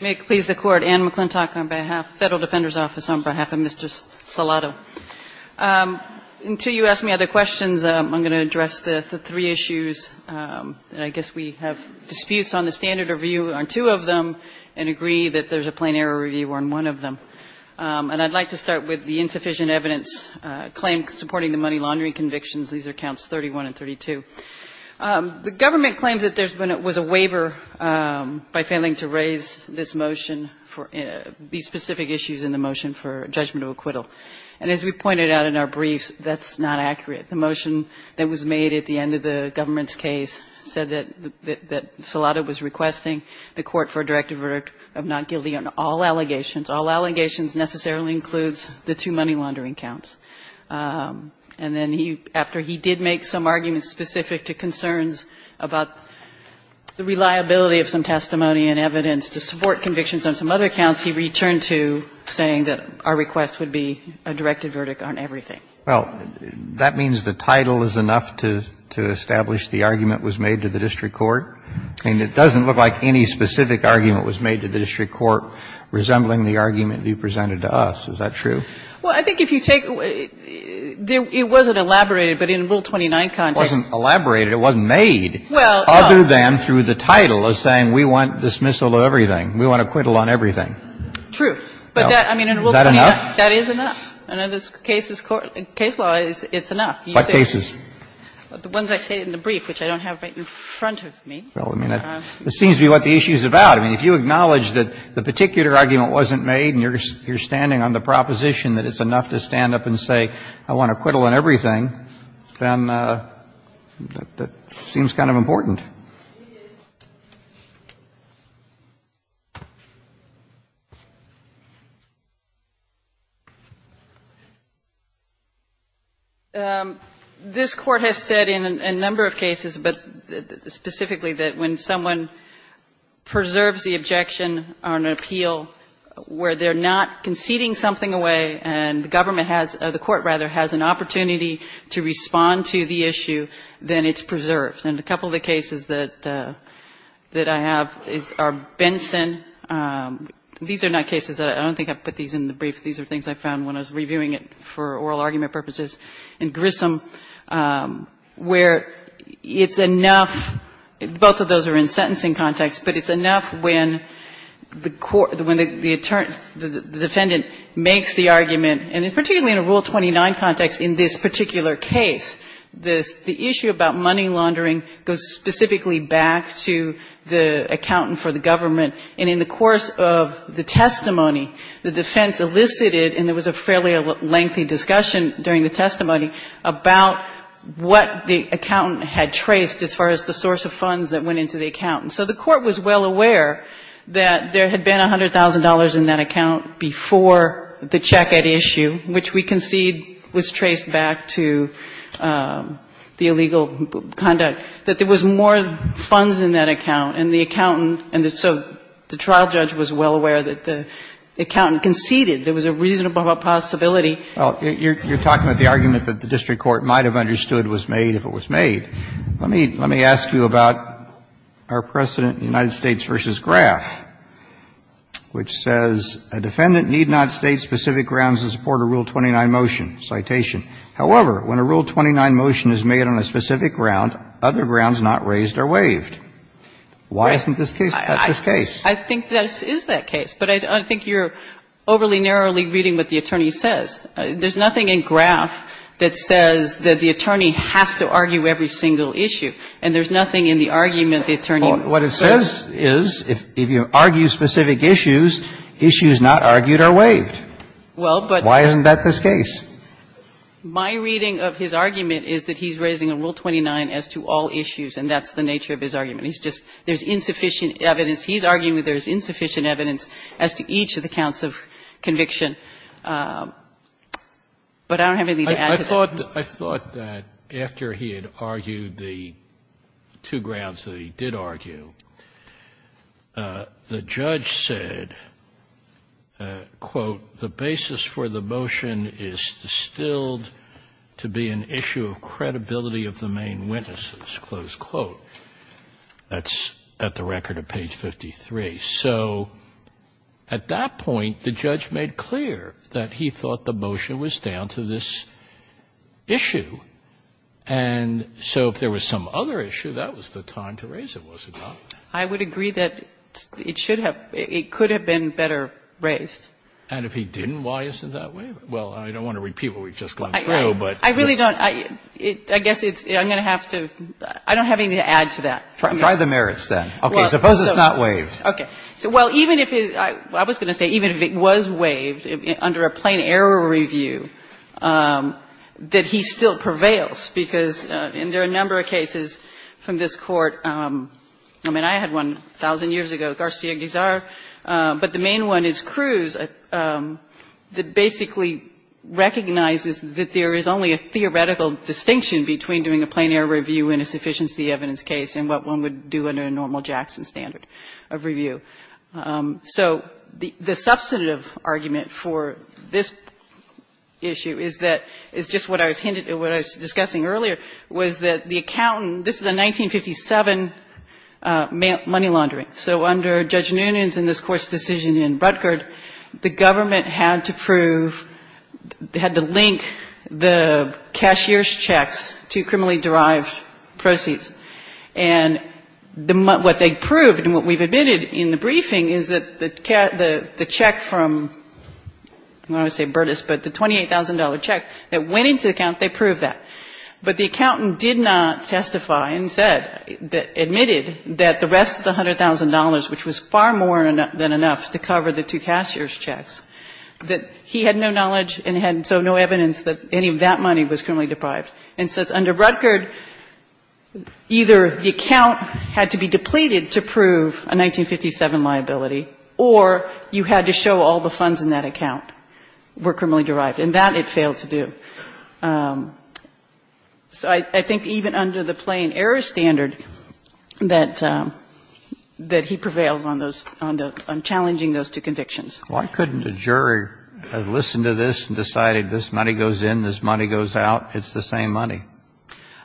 May it please the Court. Anne McClintock on behalf of the Federal Defender's Office on behalf of Mr. Salado. Until you ask me other questions, I'm going to address the three issues. And I guess we have disputes on the standard review on two of them and agree that there's a plain error review on one of them. And I'd like to start with the insufficient evidence claim supporting the money laundering convictions. These are counts 31 and 32. The government claims that there was a waiver by failing to raise this motion for these specific issues in the motion for judgment of acquittal. And as we pointed out in our briefs, that's not accurate. The motion that was made at the end of the government's case said that Salado was requesting the court for a directed verdict of not guilty on all allegations. All allegations necessarily includes the two money laundering counts. And then he, after he did make some arguments specific to concerns about the reliability of some testimony and evidence to support convictions on some other counts, he returned to saying that our request would be a directed verdict on everything. Well, that means the title is enough to establish the argument was made to the district court? And it doesn't look like any specific argument was made to the district court resembling the argument you presented to us. Is that true? Well, I think if you take the – it wasn't elaborated, but in Rule 29 context. It wasn't elaborated. It wasn't made. Well, no. Other than through the title of saying we want dismissal of everything. We want acquittal on everything. But that, I mean, in Rule 29. Is that enough? That is enough. And in this case's court – case law, it's enough. What cases? The ones I stated in the brief, which I don't have right in front of me. Well, I mean, that seems to be what the issue is about. I mean, if you acknowledge that the particular argument wasn't made and you're standing on the proposition that it's enough to stand up and say I want acquittal on everything, then that seems kind of important. This Court has said in a number of cases, but specifically that when someone preserves the objection on an appeal where they're not conceding something away and the government has – the court, rather, has an opportunity to respond to the issue, then it's preserved. And a couple of the cases that I have are Benson. These are not cases that – I don't think I put these in the brief. These are things I found when I was reviewing it for oral argument purposes in Grissom, where it's enough. Both of those are in sentencing context, but it's enough when the court – when the attorney – the defendant makes the argument. And particularly in a Rule 29 context, in this particular case, the issue about money laundering goes specifically back to the accountant for the government. And in the course of the testimony, the defense elicited, and there was a fairly lengthy discussion during the testimony, about what the accountant had traced as far as the source of funds that went into the accountant. So the court was well aware that there had been $100,000 in that account before the check at issue, which we concede was traced back to the illegal conduct, that there was more funds in that account. And the accountant – and so the trial judge was well aware that the accountant conceded there was a reasonable possibility. Well, you're talking about the argument that the district court might have understood was made if it was made. Let me ask you about our precedent in the United States v. Graff, which says, A defendant need not state specific grounds to support a Rule 29 motion. Citation. However, when a Rule 29 motion is made on a specific ground, other grounds not raised are waived. Why isn't this case? That's this case. I think this is that case. But I think you're overly narrowly reading what the attorney says. There's nothing in Graff that says that the attorney has to argue every single issue, and there's nothing in the argument the attorney says. Well, what it says is, if you argue specific issues, issues not argued are waived. Well, but – Why isn't that this case? My reading of his argument is that he's raising a Rule 29 as to all issues, and that's the nature of his argument. He's just – there's insufficient evidence. He's arguing there's insufficient evidence as to each of the counts of conviction. But I don't have anything to add to that. I thought that after he had argued the two grounds that he did argue, the judge said, quote, The basis for the motion is distilled to be an issue of credibility of the main witnesses, close quote. That's at the record of page 53. So at that point, the judge made clear that he thought the motion was down to this issue. And so if there was some other issue, that was the time to raise it, was it not? I would agree that it should have – it could have been better raised. And if he didn't, why isn't it that way? Well, I don't want to repeat what we've just gone through, but – I really don't. I guess it's – I'm going to have to – I don't have anything to add to that. Try the merits, then. Okay. Suppose it's not waived. Okay. So, well, even if his – I was going to say even if it was waived under a plain error review, that he still prevails, because there are a number of cases from this Court – I mean, I had one 1,000 years ago, Garcia-Guizar. But the main one is Cruz that basically recognizes that there is only a theoretical distinction between doing a plain error review in a sufficiency evidence case and what one would do under a normal Jackson standard of review. So the substantive argument for this issue is that – is just what I was hinted – what I was discussing earlier was that the accountant – this is a 1957 money laundering. So under Judge Noonan's and this Court's decision in Rutgerd, the government had to prove – they had to link the cashier's checks to criminally derived proceeds. And what they proved and what we've admitted in the briefing is that the check from – I don't want to say Burtis, but the $28,000 check that went into the account, they proved that. But the accountant did not testify and said – admitted that the rest of the $100,000, which was far more than enough to cover the two cashier's checks, that he had no knowledge and so no evidence that any of that money was criminally deprived. And so under Rutgerd, either the account had to be depleted to prove a 1957 liability or you had to show all the funds in that account were criminally derived, and that it failed to do. So I think even under the plain error standard that he prevails on those – on challenging those two convictions. Why couldn't a jury have listened to this and decided this money goes in, this money goes out, it's the same money?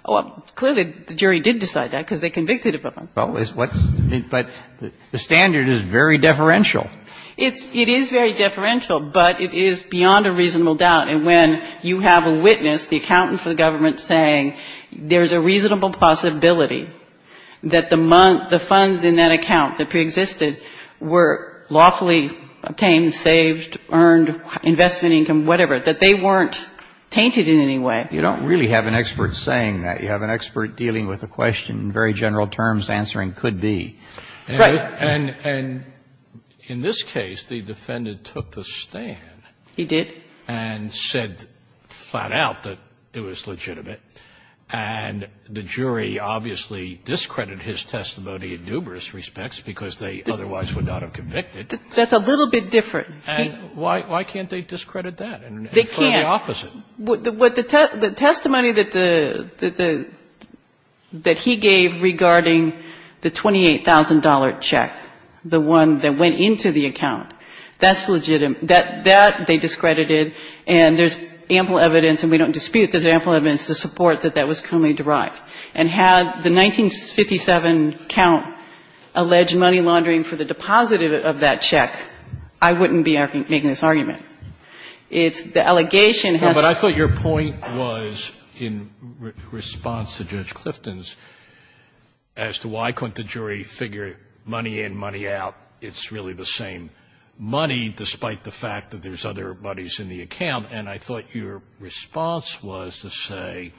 Well, clearly the jury did decide that because they convicted him. But the standard is very deferential. It is very deferential. But it is beyond a reasonable doubt. And when you have a witness, the accountant for the government saying there is a reasonable possibility that the funds in that account that preexisted were lawfully obtained, saved, earned, investment income, whatever, that they weren't tainted in any way. You don't really have an expert saying that. You have an expert dealing with a question in very general terms, answering could be. Right. And in this case, the defendant took the stand. He did. And said flat out that it was legitimate. And the jury obviously discredited his testimony in numerous respects because they otherwise would not have convicted. That's a little bit different. And why can't they discredit that? They can't. And the opposite. The testimony that the he gave regarding the $28,000 check, the one that went into the account, that's legitimate. That they discredited. And there is ample evidence, and we don't dispute that there is ample evidence to support that that was criminally derived. And had the 1957 count alleged money laundering for the deposit of that check, I wouldn't be making this argument. It's the allegation has to be. But I thought your point was, in response to Judge Clifton's, as to why couldn't the jury figure money in, money out, it's really the same money, despite the fact that there's other monies in the account. And I thought your response was to say,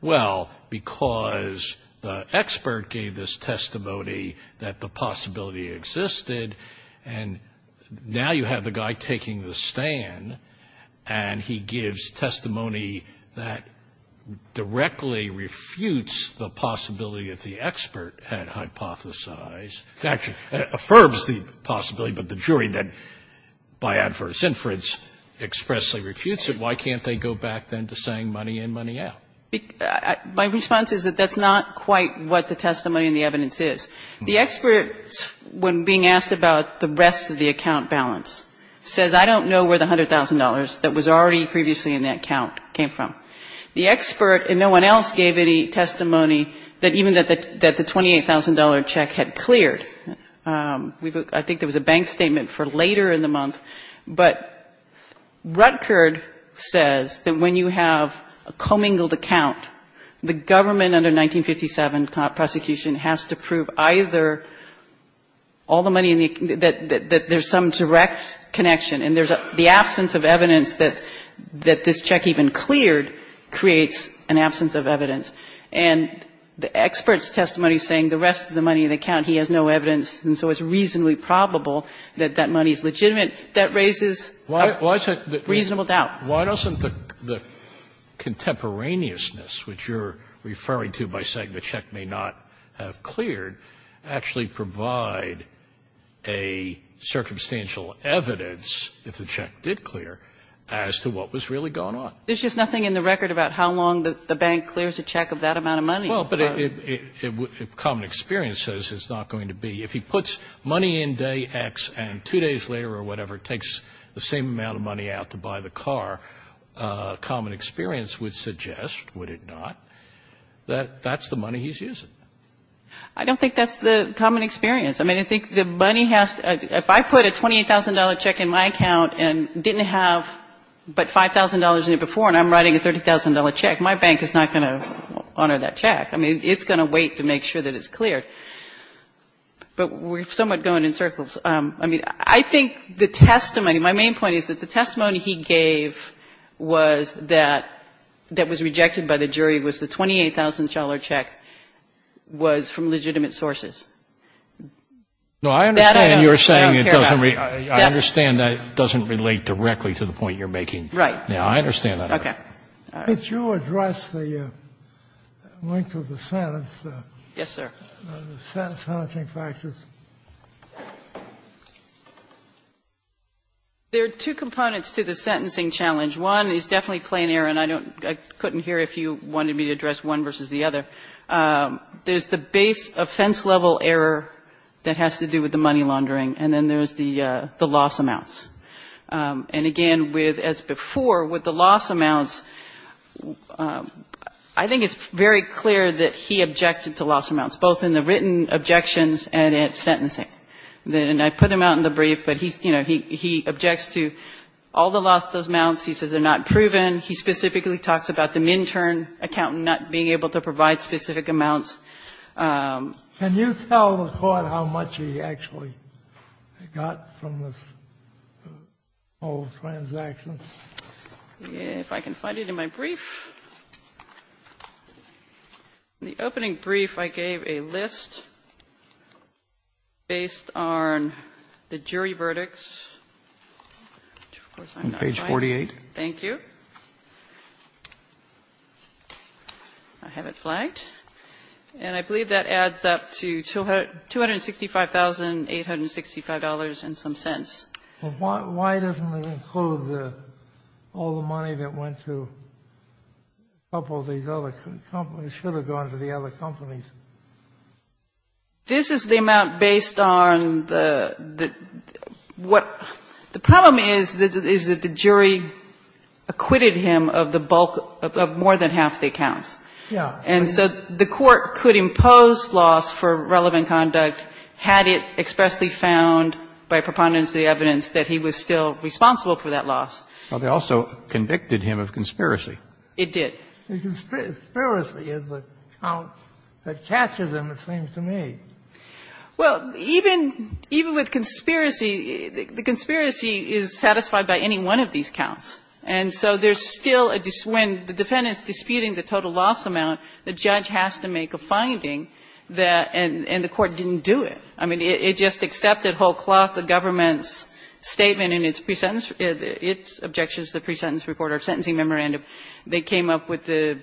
well, because the expert gave this testimony that the possibility existed, and now you have the guy taking the stand, and he gives testimony that directly refutes the possibility that the expert had hypothesized, actually, affirms the possibility, but the jury then, by adverse inference, expressly refutes it. Why can't they go back then to saying money in, money out? My response is that that's not quite what the testimony and the evidence is. The expert, when being asked about the rest of the account balance, says I don't know where the $100,000 that was already previously in that count came from. The expert and no one else gave any testimony that even that the $28,000 check had cleared. I think there was a bank statement for later in the month. But Rutgerd says that when you have a commingled account, the government under 1957 prosecution has to prove either all the money in the account, that there's some direct connection, and the absence of evidence that this check even cleared creates an absence of evidence. And the expert's testimony saying the rest of the money in the account, he has no doubt that it's probable that that money is legitimate, that raises a reasonable doubt. Why doesn't the contemporaneousness, which you're referring to by saying the check may not have cleared, actually provide a circumstantial evidence, if the check did clear, as to what was really going on? There's just nothing in the record about how long the bank clears a check of that amount of money. Well, but common experience says it's not going to be. If he puts money in day X and two days later or whatever, it takes the same amount of money out to buy the car, common experience would suggest, would it not, that that's the money he's using. I don't think that's the common experience. I mean, I think the money has to be, if I put a $28,000 check in my account and didn't have but $5,000 in it before and I'm writing a $30,000 check, my bank is not going to honor that check. I mean, it's going to wait to make sure that it's cleared. But we're somewhat going in circles. I mean, I think the testimony, my main point is that the testimony he gave was that that was rejected by the jury was the $28,000 check was from legitimate sources. That I don't care about. No, I understand you're saying it doesn't relate. I understand that it doesn't relate directly to the point you're making. Right. Yeah, I understand that. Okay. Can you address the length of the sentence? Yes, sir. Sentencing factors. There are two components to the sentencing challenge. One is definitely plain error, and I couldn't hear if you wanted me to address one versus the other. There's the base offense level error that has to do with the money laundering, and then there's the loss amounts. And again, as before, with the loss amounts, I think it's very clear that he objected to loss amounts, both in the written objections and at sentencing. And I put him out in the brief, but he objects to all the loss amounts. He says they're not proven. He specifically talks about the midterm accountant not being able to provide specific amounts. Can you tell the court how much he actually got from this whole transaction? If I can find it in my brief. In the opening brief, I gave a list based on the jury verdicts. Page 48. Thank you. I have it flagged. And I believe that adds up to $265,865 and some cents. Why doesn't it include all the money that went to a couple of these other companies? It should have gone to the other companies. This is the amount based on the what the problem is, is that the jury acquitted him of the bulk of more than half the accounts. Yeah. And so the court could impose loss for relevant conduct had it expressly found by preponderance of the evidence that he was still responsible for that loss. Well, they also convicted him of conspiracy. It did. Conspiracy is the count that catches him, it seems to me. Well, even with conspiracy, the conspiracy is satisfied by any one of these counts. And so there's still, when the defendant is disputing the total loss amount, the judge has to make a finding that, and the court didn't do it. I mean, it just accepted whole cloth the government's statement in its pre-sentence its objections to the pre-sentence report or sentencing memorandum. They came up with the,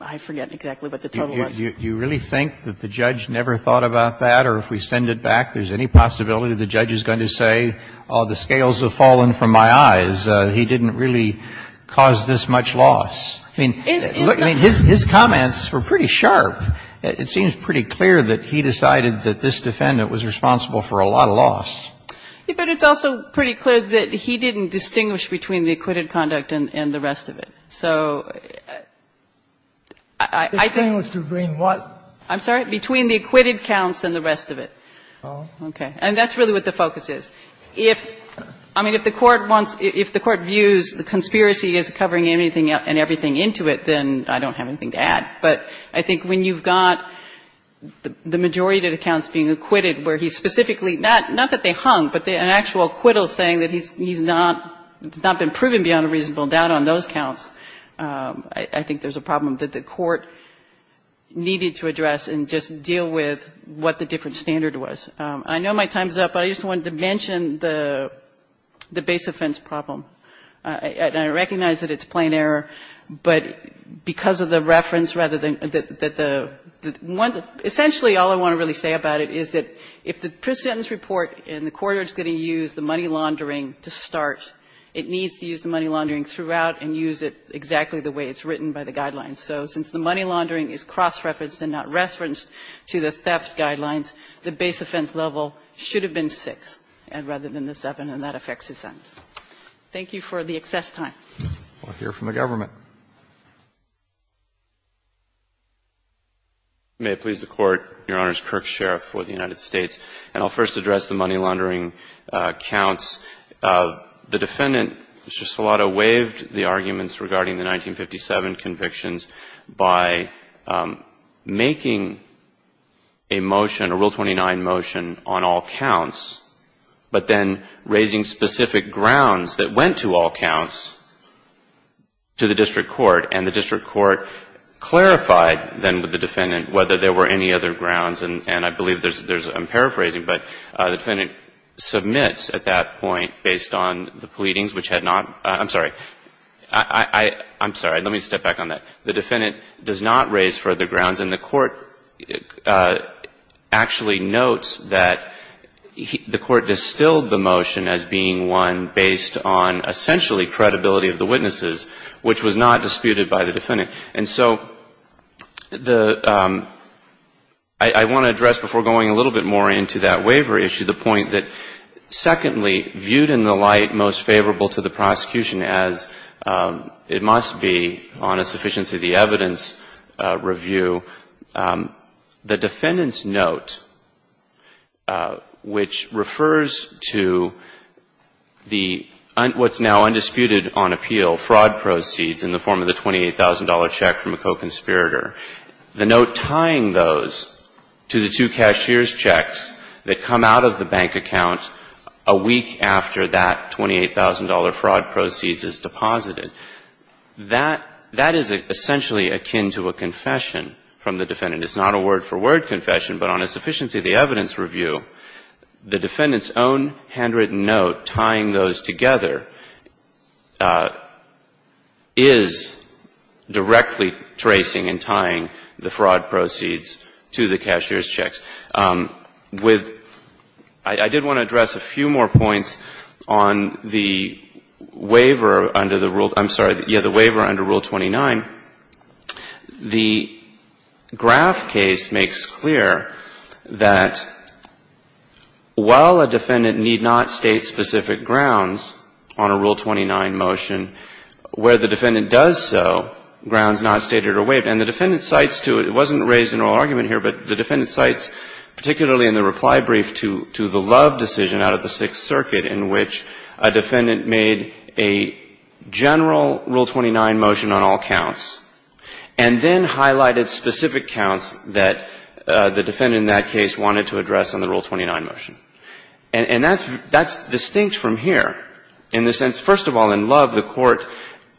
I forget exactly, but the total loss. Do you really think that the judge never thought about that? Or if we send it back, there's any possibility the judge is going to say, oh, the defendant was, he didn't really cause this much loss. I mean, his comments were pretty sharp. It seems pretty clear that he decided that this defendant was responsible for a lot of loss. But it's also pretty clear that he didn't distinguish between the acquitted conduct and the rest of it. So I think the thing was to bring what? I'm sorry? Between the acquitted counts and the rest of it. Oh. Okay. And that's really what the focus is. If, I mean, if the Court wants, if the Court views the conspiracy as covering anything and everything into it, then I don't have anything to add. But I think when you've got the majority of the counts being acquitted where he's specifically, not that they hung, but an actual acquittal saying that he's not, it's not been proven beyond a reasonable doubt on those counts, I think there's a problem that the Court needed to address and just deal with what the different standard was. I know my time's up, but I just wanted to mention the base offense problem. And I recognize that it's plain error, but because of the reference rather than the one, essentially all I want to really say about it is that if the pre-sentence report in the court is going to use the money laundering to start, it needs to use the money laundering throughout and use it exactly the way it's written by the guidelines. So since the money laundering is cross-referenced and not referenced to the theft guidelines, the base offense level should have been 6 rather than the 7, and that affects his sentence. Thank you for the excess time. We'll hear from the government. May it please the Court. Your Honor, it's Kirk Sheriff for the United States. And I'll first address the money laundering counts. The Defendant, Mr. Solano, waived the arguments regarding the 1957 convictions by making a motion, a Rule 29 motion on all counts, but then raising specific grounds that went to all counts to the District Court. And the District Court clarified then with the Defendant whether there were any other grounds, and I believe there's, I'm paraphrasing, but the Defendant submits at that point based on the pleadings which had not, I'm sorry, I'm sorry, let me step back on that. The Defendant does not raise further grounds, and the Court actually notes that the Court distilled the motion as being one based on essentially credibility of the witnesses, which was not disputed by the Defendant. And so the, I want to address before going a little bit more into that waiver issue the point that, secondly, viewed in the light most favorable to the prosecution as it must be on a sufficiency of the evidence review, the Defendant's note, which refers to the, what's now undisputed on appeal, fraud proceeds in the form of the $28,000 check from a co-conspirator. The note tying those to the two cashier's checks that come out of the bank account a few days after the fraud proceeds is deposited, that is essentially akin to a confession from the Defendant. It's not a word-for-word confession, but on a sufficiency of the evidence review, the Defendant's own handwritten note tying those together is directly tracing and tying the fraud proceeds to the cashier's checks. With, I did want to address a few more points on the waiver under the Rule, I'm sorry, yeah, the waiver under Rule 29. The Graff case makes clear that while a Defendant need not state specific grounds on a Rule 29 motion, where the Defendant does so, grounds not stated are waived. And the Defendant cites to, it wasn't raised in oral argument here, but the Defendant cites particularly in the reply brief to the Love decision out of the Sixth Circuit in which a Defendant made a general Rule 29 motion on all counts and then highlighted specific counts that the Defendant in that case wanted to address on the Rule 29 motion. And that's distinct from here in the sense, first of all, in Love, the court,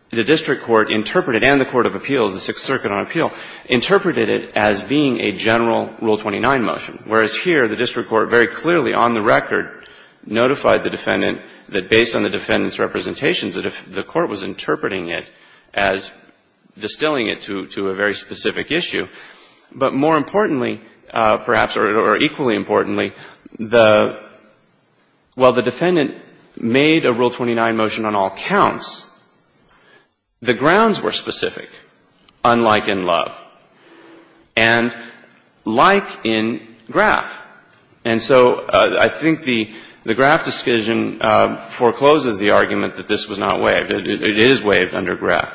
the district court interpreted and the Court of Appeals, the Sixth Circuit on Appeal, interpreted it as being a general Rule 29 motion, whereas here the district court very clearly on the record notified the Defendant that based on the Defendant's representations that the court was interpreting it as distilling it to a very specific issue. But more importantly, perhaps, or equally importantly, the, while the Defendant made a Rule 29 motion on all counts, the grounds were specific, unlike in Love, and like in Graff. And so I think the Graff decision forecloses the argument that this was not a general Rule 29 motion, that it was not waived. It is waived under Graff.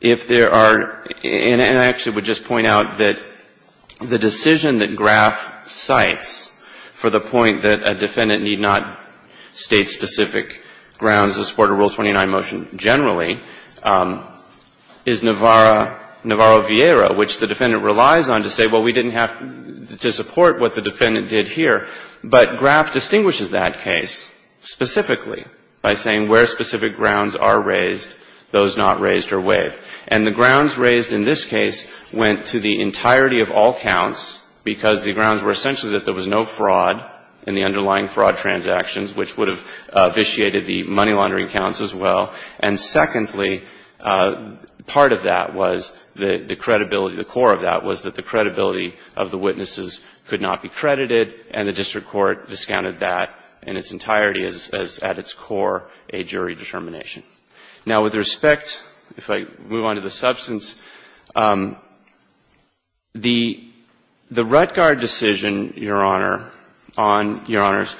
If there are, and I actually would just point out that the decision that Graff cites for the point that a Defendant need not state specific grounds to support a Rule 29 motion generally is Navarro-Vieira, which the Defendant relies on to say, well, we didn't have to support what the Defendant did here. But Graff distinguishes that case specifically by saying where specific grounds are raised, those not raised are waived. And the grounds raised in this case went to the entirety of all counts, because the grounds were essentially that there was no fraud in the underlying fraud transactions, which would have vitiated the money laundering counts as well. And secondly, part of that was the credibility, the core of that was that the credibility of the witnesses could not be credited, and the district court discounted that in its entirety as, at its core, a jury determination. Now, with respect, if I move on to the substance, the Rettgard decision, Your Honor, on, Your Honors,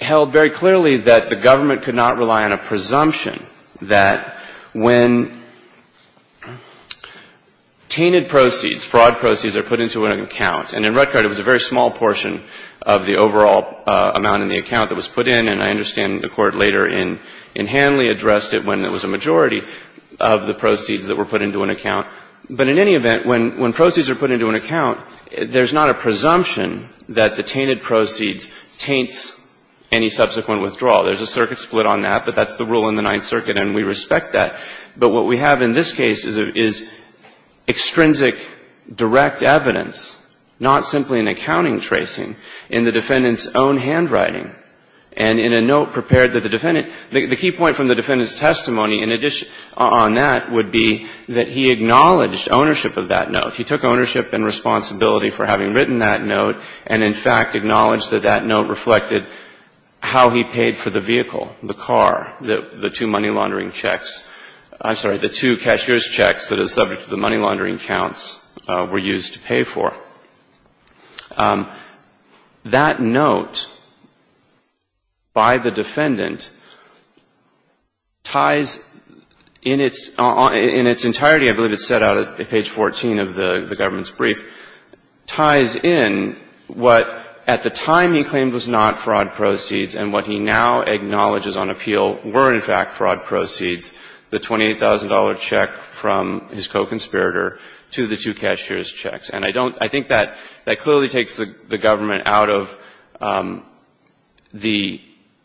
held very clearly that the government could not rely on a presumption that when tainted proceeds, fraud proceeds, are put into an account, and in Rettgard it was a very small portion of the overall amount in the account that was put in, and I understand the Court later in Hanley addressed it when it was a majority of the proceeds that were put into an account, but in any event, when proceeds are put into an account, there's not a presumption that the tainted proceeds taints any subsequent withdrawal. There's a circuit split on that, but that's the rule in the Ninth Circuit, and we respect that, but what we have in this case is extrinsic direct evidence, not simply an accounting tracing, in the defendant's own handwriting, and in a note prepared that the defendant the key point from the defendant's testimony on that would be that he acknowledged ownership of that note. In fact, acknowledged that that note reflected how he paid for the vehicle, the car, the two money laundering checks, I'm sorry, the two cashier's checks that are subject to the money laundering counts were used to pay for. That note by the defendant ties in its entirety, I believe it's set out at page 14 of the government's brief, ties in what at the time he claimed was not fraud proceeds and what he now acknowledges on appeal were in fact fraud proceeds, the $28,000 check from his co-conspirator to the two cashier's checks. And I don't, I think that clearly takes the government out of the,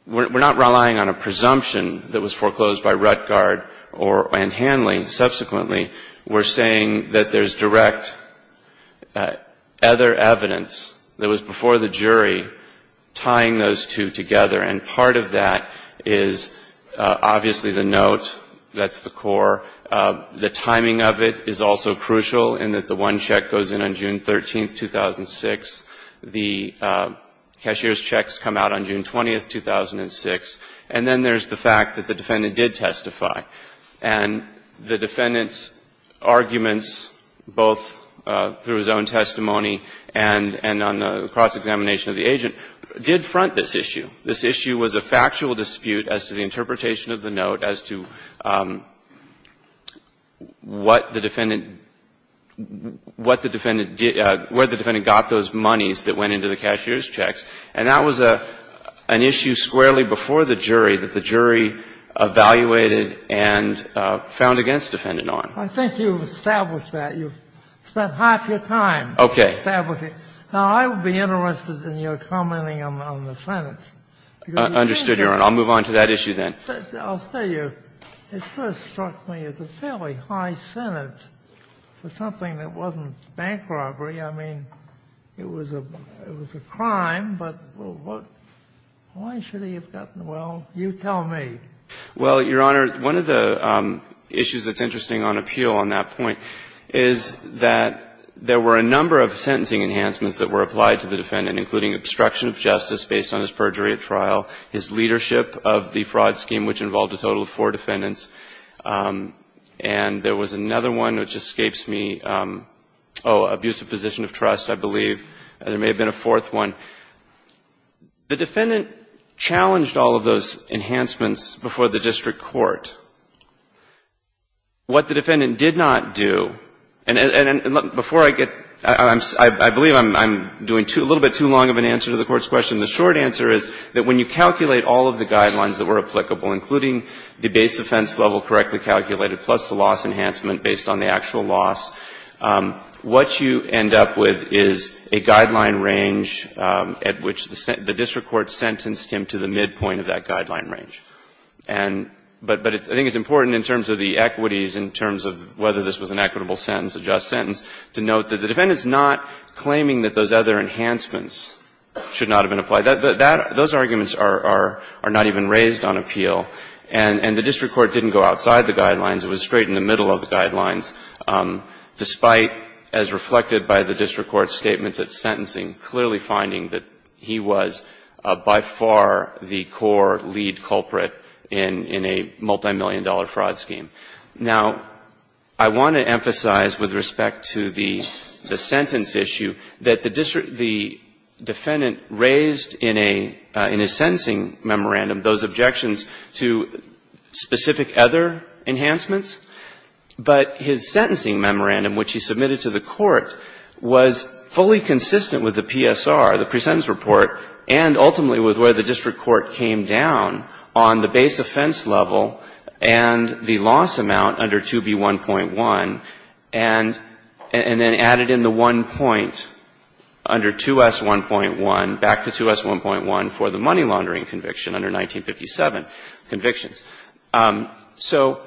we're not relying on a presumption that was foreclosed by Ruttgard and Hanley. And subsequently, we're saying that there's direct other evidence that was before the jury tying those two together. And part of that is obviously the note, that's the core. The timing of it is also crucial in that the one check goes in on June 13, 2006. The cashier's checks come out on June 20, 2006. And then there's the fact that the defendant did testify. And the defendant's arguments, both through his own testimony and on the cross-examination of the agent, did front this issue. This issue was a factual dispute as to the interpretation of the note, as to what the defendant, what the defendant did, where the defendant got those monies that went into the cashier's checks. And that was an issue squarely before the jury that the jury evaluated and found against the defendant on. I think you've established that. You've spent half your time establishing. Okay. Now, I would be interested in your commenting on the sentence. Understood, Your Honor. I'll move on to that issue then. I'll tell you, it first struck me as a fairly high sentence for something that wasn't bank robbery. I mean, it was a crime, but why should he have gotten the money? You tell me. Well, Your Honor, one of the issues that's interesting on appeal on that point is that there were a number of sentencing enhancements that were applied to the defendant, including obstruction of justice based on his perjury at trial, his leadership of the fraud scheme, which involved a total of four defendants. And there was another one which escapes me. Oh, abusive position of trust, I believe. There may have been a fourth one. The defendant challenged all of those enhancements before the district court. What the defendant did not do, and before I get — I believe I'm doing a little bit too long of an answer to the Court's question. The short answer is that when you calculate all of the guidelines that were applicable, including the base offense level correctly calculated plus the loss enhancement based on the actual loss, what you end up with is a guideline range at which the district court sentenced him to the midpoint of that guideline range. And — but I think it's important in terms of the equities, in terms of whether this was an equitable sentence, a just sentence, to note that the defendant's not claiming that those other enhancements should not have been applied. Those arguments are not even raised on appeal. And the district court didn't go outside the guidelines. It was straight in the middle of the guidelines, despite, as reflected by the district court's statements at sentencing, clearly finding that he was by far the core lead culprit in a multimillion-dollar fraud scheme. Now, I want to emphasize with respect to the sentence issue that the defendant raised in a — in his sentencing memorandum those objections to specific other enhancements. But his sentencing memorandum, which he submitted to the Court, was fully consistent with the PSR, the presentence report, and ultimately with where the district court came down on the base offense level and the loss amount under 2B1.1, and then added in the one point under 2S1.1, back to 2S1.1 for the money laundering conviction under 1957 convictions. So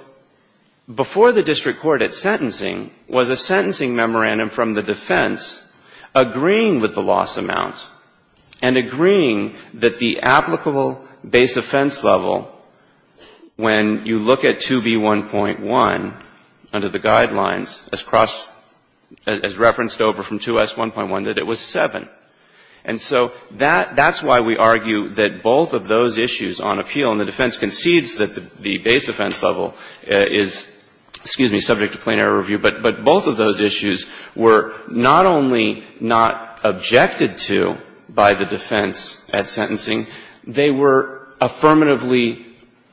before the district court at sentencing was a sentencing memorandum from the defense agreeing with the loss amount and agreeing that the applicable base offense level when you look at 2B1.1 under the guidelines, as referenced over from 2S1.1, that it was 7. And so that's why we argue that both of those issues on appeal, and the defense concedes that the base offense level is, excuse me, subject to plain error review, but both of those issues were not only not objected to by the defense at sentencing, they were affirmatively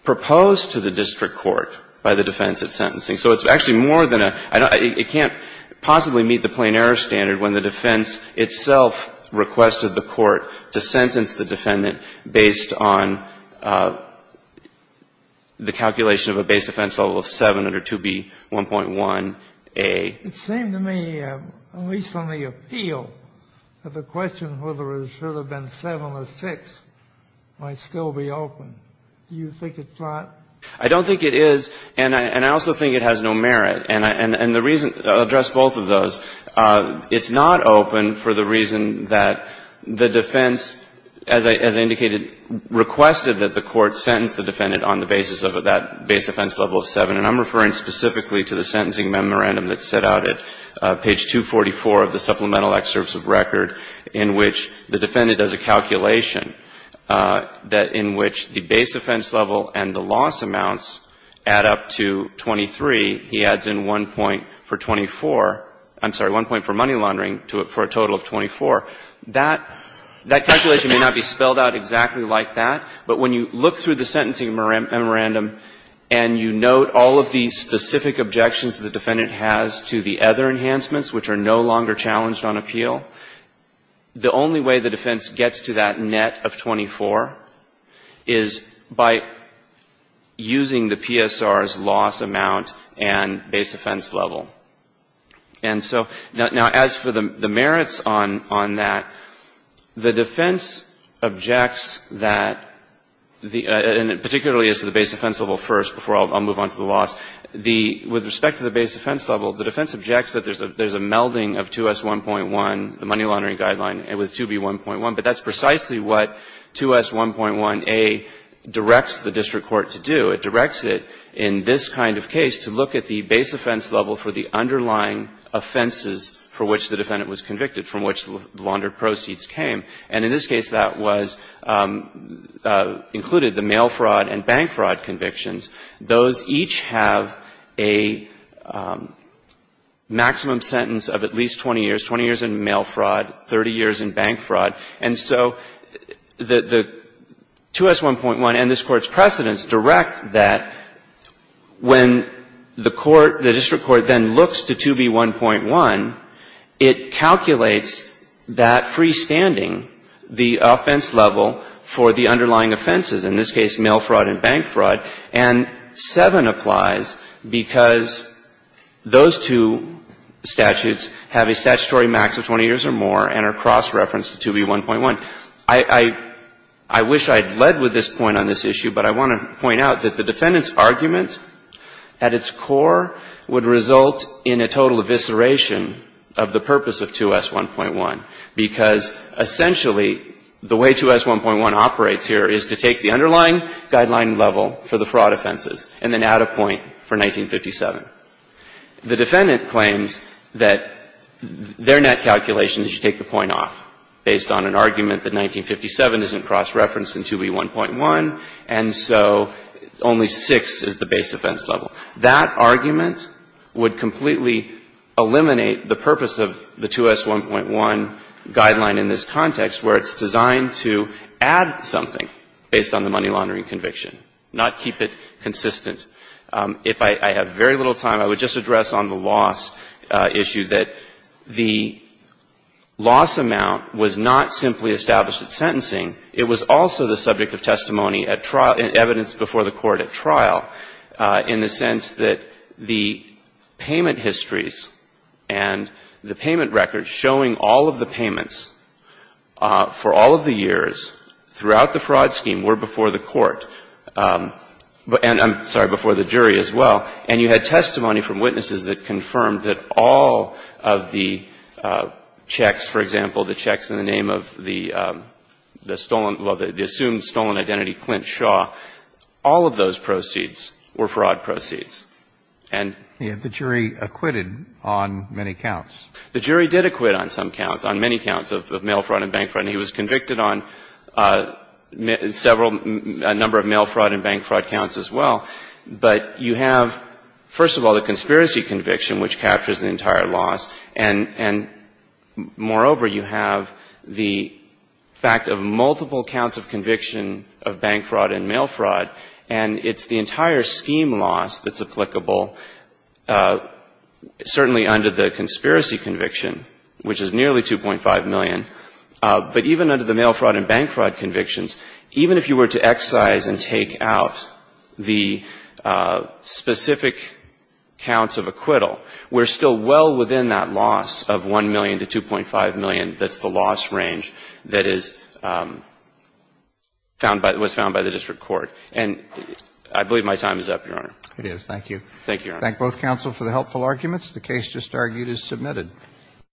proposed to the district court by the defense at sentencing. So it's actually more than a — it can't possibly meet the plain error standard when the defense itself requested the court to sentence the defendant based on the calculation of a base offense level of 7 under 2B1.1a. Kennedy. It seemed to me, at least on the appeal, that the question whether it should have been 7 or 6 might still be open. Do you think it's not? I don't think it is. And I also think it has no merit. And the reason — I'll address both of those. It's not open for the reason that the defense, as I indicated, requested that the court sentence the defendant on the basis of that base offense level of 7. And I'm referring specifically to the sentencing memorandum that's set out at page 244 of the Supplemental Excerpts of Record in which the defendant does a calculation that in which the base offense level and the loss amounts add up to 23, he adds in one point for 24 — I'm sorry, one point for money laundering for a total of 24. That calculation may not be spelled out exactly like that, but when you look through the sentencing memorandum and you note all of the specific objections the defendant has to the other enhancements, which are no longer challenged on appeal, the only way the defense gets to that net of 24 is by using the PSR's loss amount and base offense level. And so, now, as for the merits on that, the defense objects that the — that the and it particularly is to the base offense level first before I'll move on to the loss. The — with respect to the base offense level, the defense objects that there's a melding of 2S1.1, the money laundering guideline, with 2B1.1, but that's precisely what 2S1.1a directs the district court to do. It directs it in this kind of case to look at the base offense level for the underlying offenses for which the defendant was convicted, from which the laundered proceeds came. And in this case, that was — included the mail fraud and bank fraud convictions. Those each have a maximum sentence of at least 20 years, 20 years in mail fraud, 30 years in bank fraud. And so the 2S1.1 and this Court's precedents direct that when the court, the district court, then looks to 2B1.1, it calculates that freestanding, the offense level for the underlying offenses, in this case mail fraud and bank fraud. And 7 applies because those two statutes have a statutory max of 20 years or more and are cross-referenced to 2B1.1. I wish I had led with this point on this issue, but I want to point out that the defendant's score would result in a total evisceration of the purpose of 2S1.1, because essentially the way 2S1.1 operates here is to take the underlying guideline level for the fraud offenses and then add a point for 1957. The defendant claims that their net calculation is you take the point off based on an argument that 1957 isn't cross-referenced in 2B1.1, and so only 6 is the base offense level. That argument would completely eliminate the purpose of the 2S1.1 guideline in this context where it's designed to add something based on the money laundering conviction, not keep it consistent. If I have very little time, I would just address on the loss issue that the loss amount was not simply established at sentencing. It was also the subject of testimony at trial and evidence before the court at trial in the sense that the payment histories and the payment records showing all of the payments for all of the years throughout the fraud scheme were before the court and, I'm sorry, before the jury as well. And you had testimony from witnesses that confirmed that all of the checks, for example, in the name of the stolen, well, the assumed stolen identity, Clint Shaw, all of those proceeds were fraud proceeds. And the jury acquitted on many counts. The jury did acquit on some counts, on many counts of mail fraud and bank fraud. And he was convicted on several, a number of mail fraud and bank fraud counts as well. But you have, first of all, the conspiracy conviction, which captures the entire loss, and, moreover, you have the fact of multiple counts of conviction of bank fraud and mail fraud, and it's the entire scheme loss that's applicable, certainly under the conspiracy conviction, which is nearly 2.5 million. But even under the mail fraud and bank fraud convictions, even if you were to excise and take out the specific counts of acquittal, we're still well within that loss of 1 million to 2.5 million that's the loss range that is found by, was found by the district court. And I believe my time is up, Your Honor. Roberts. It is. Thank you. Thank you, Your Honor.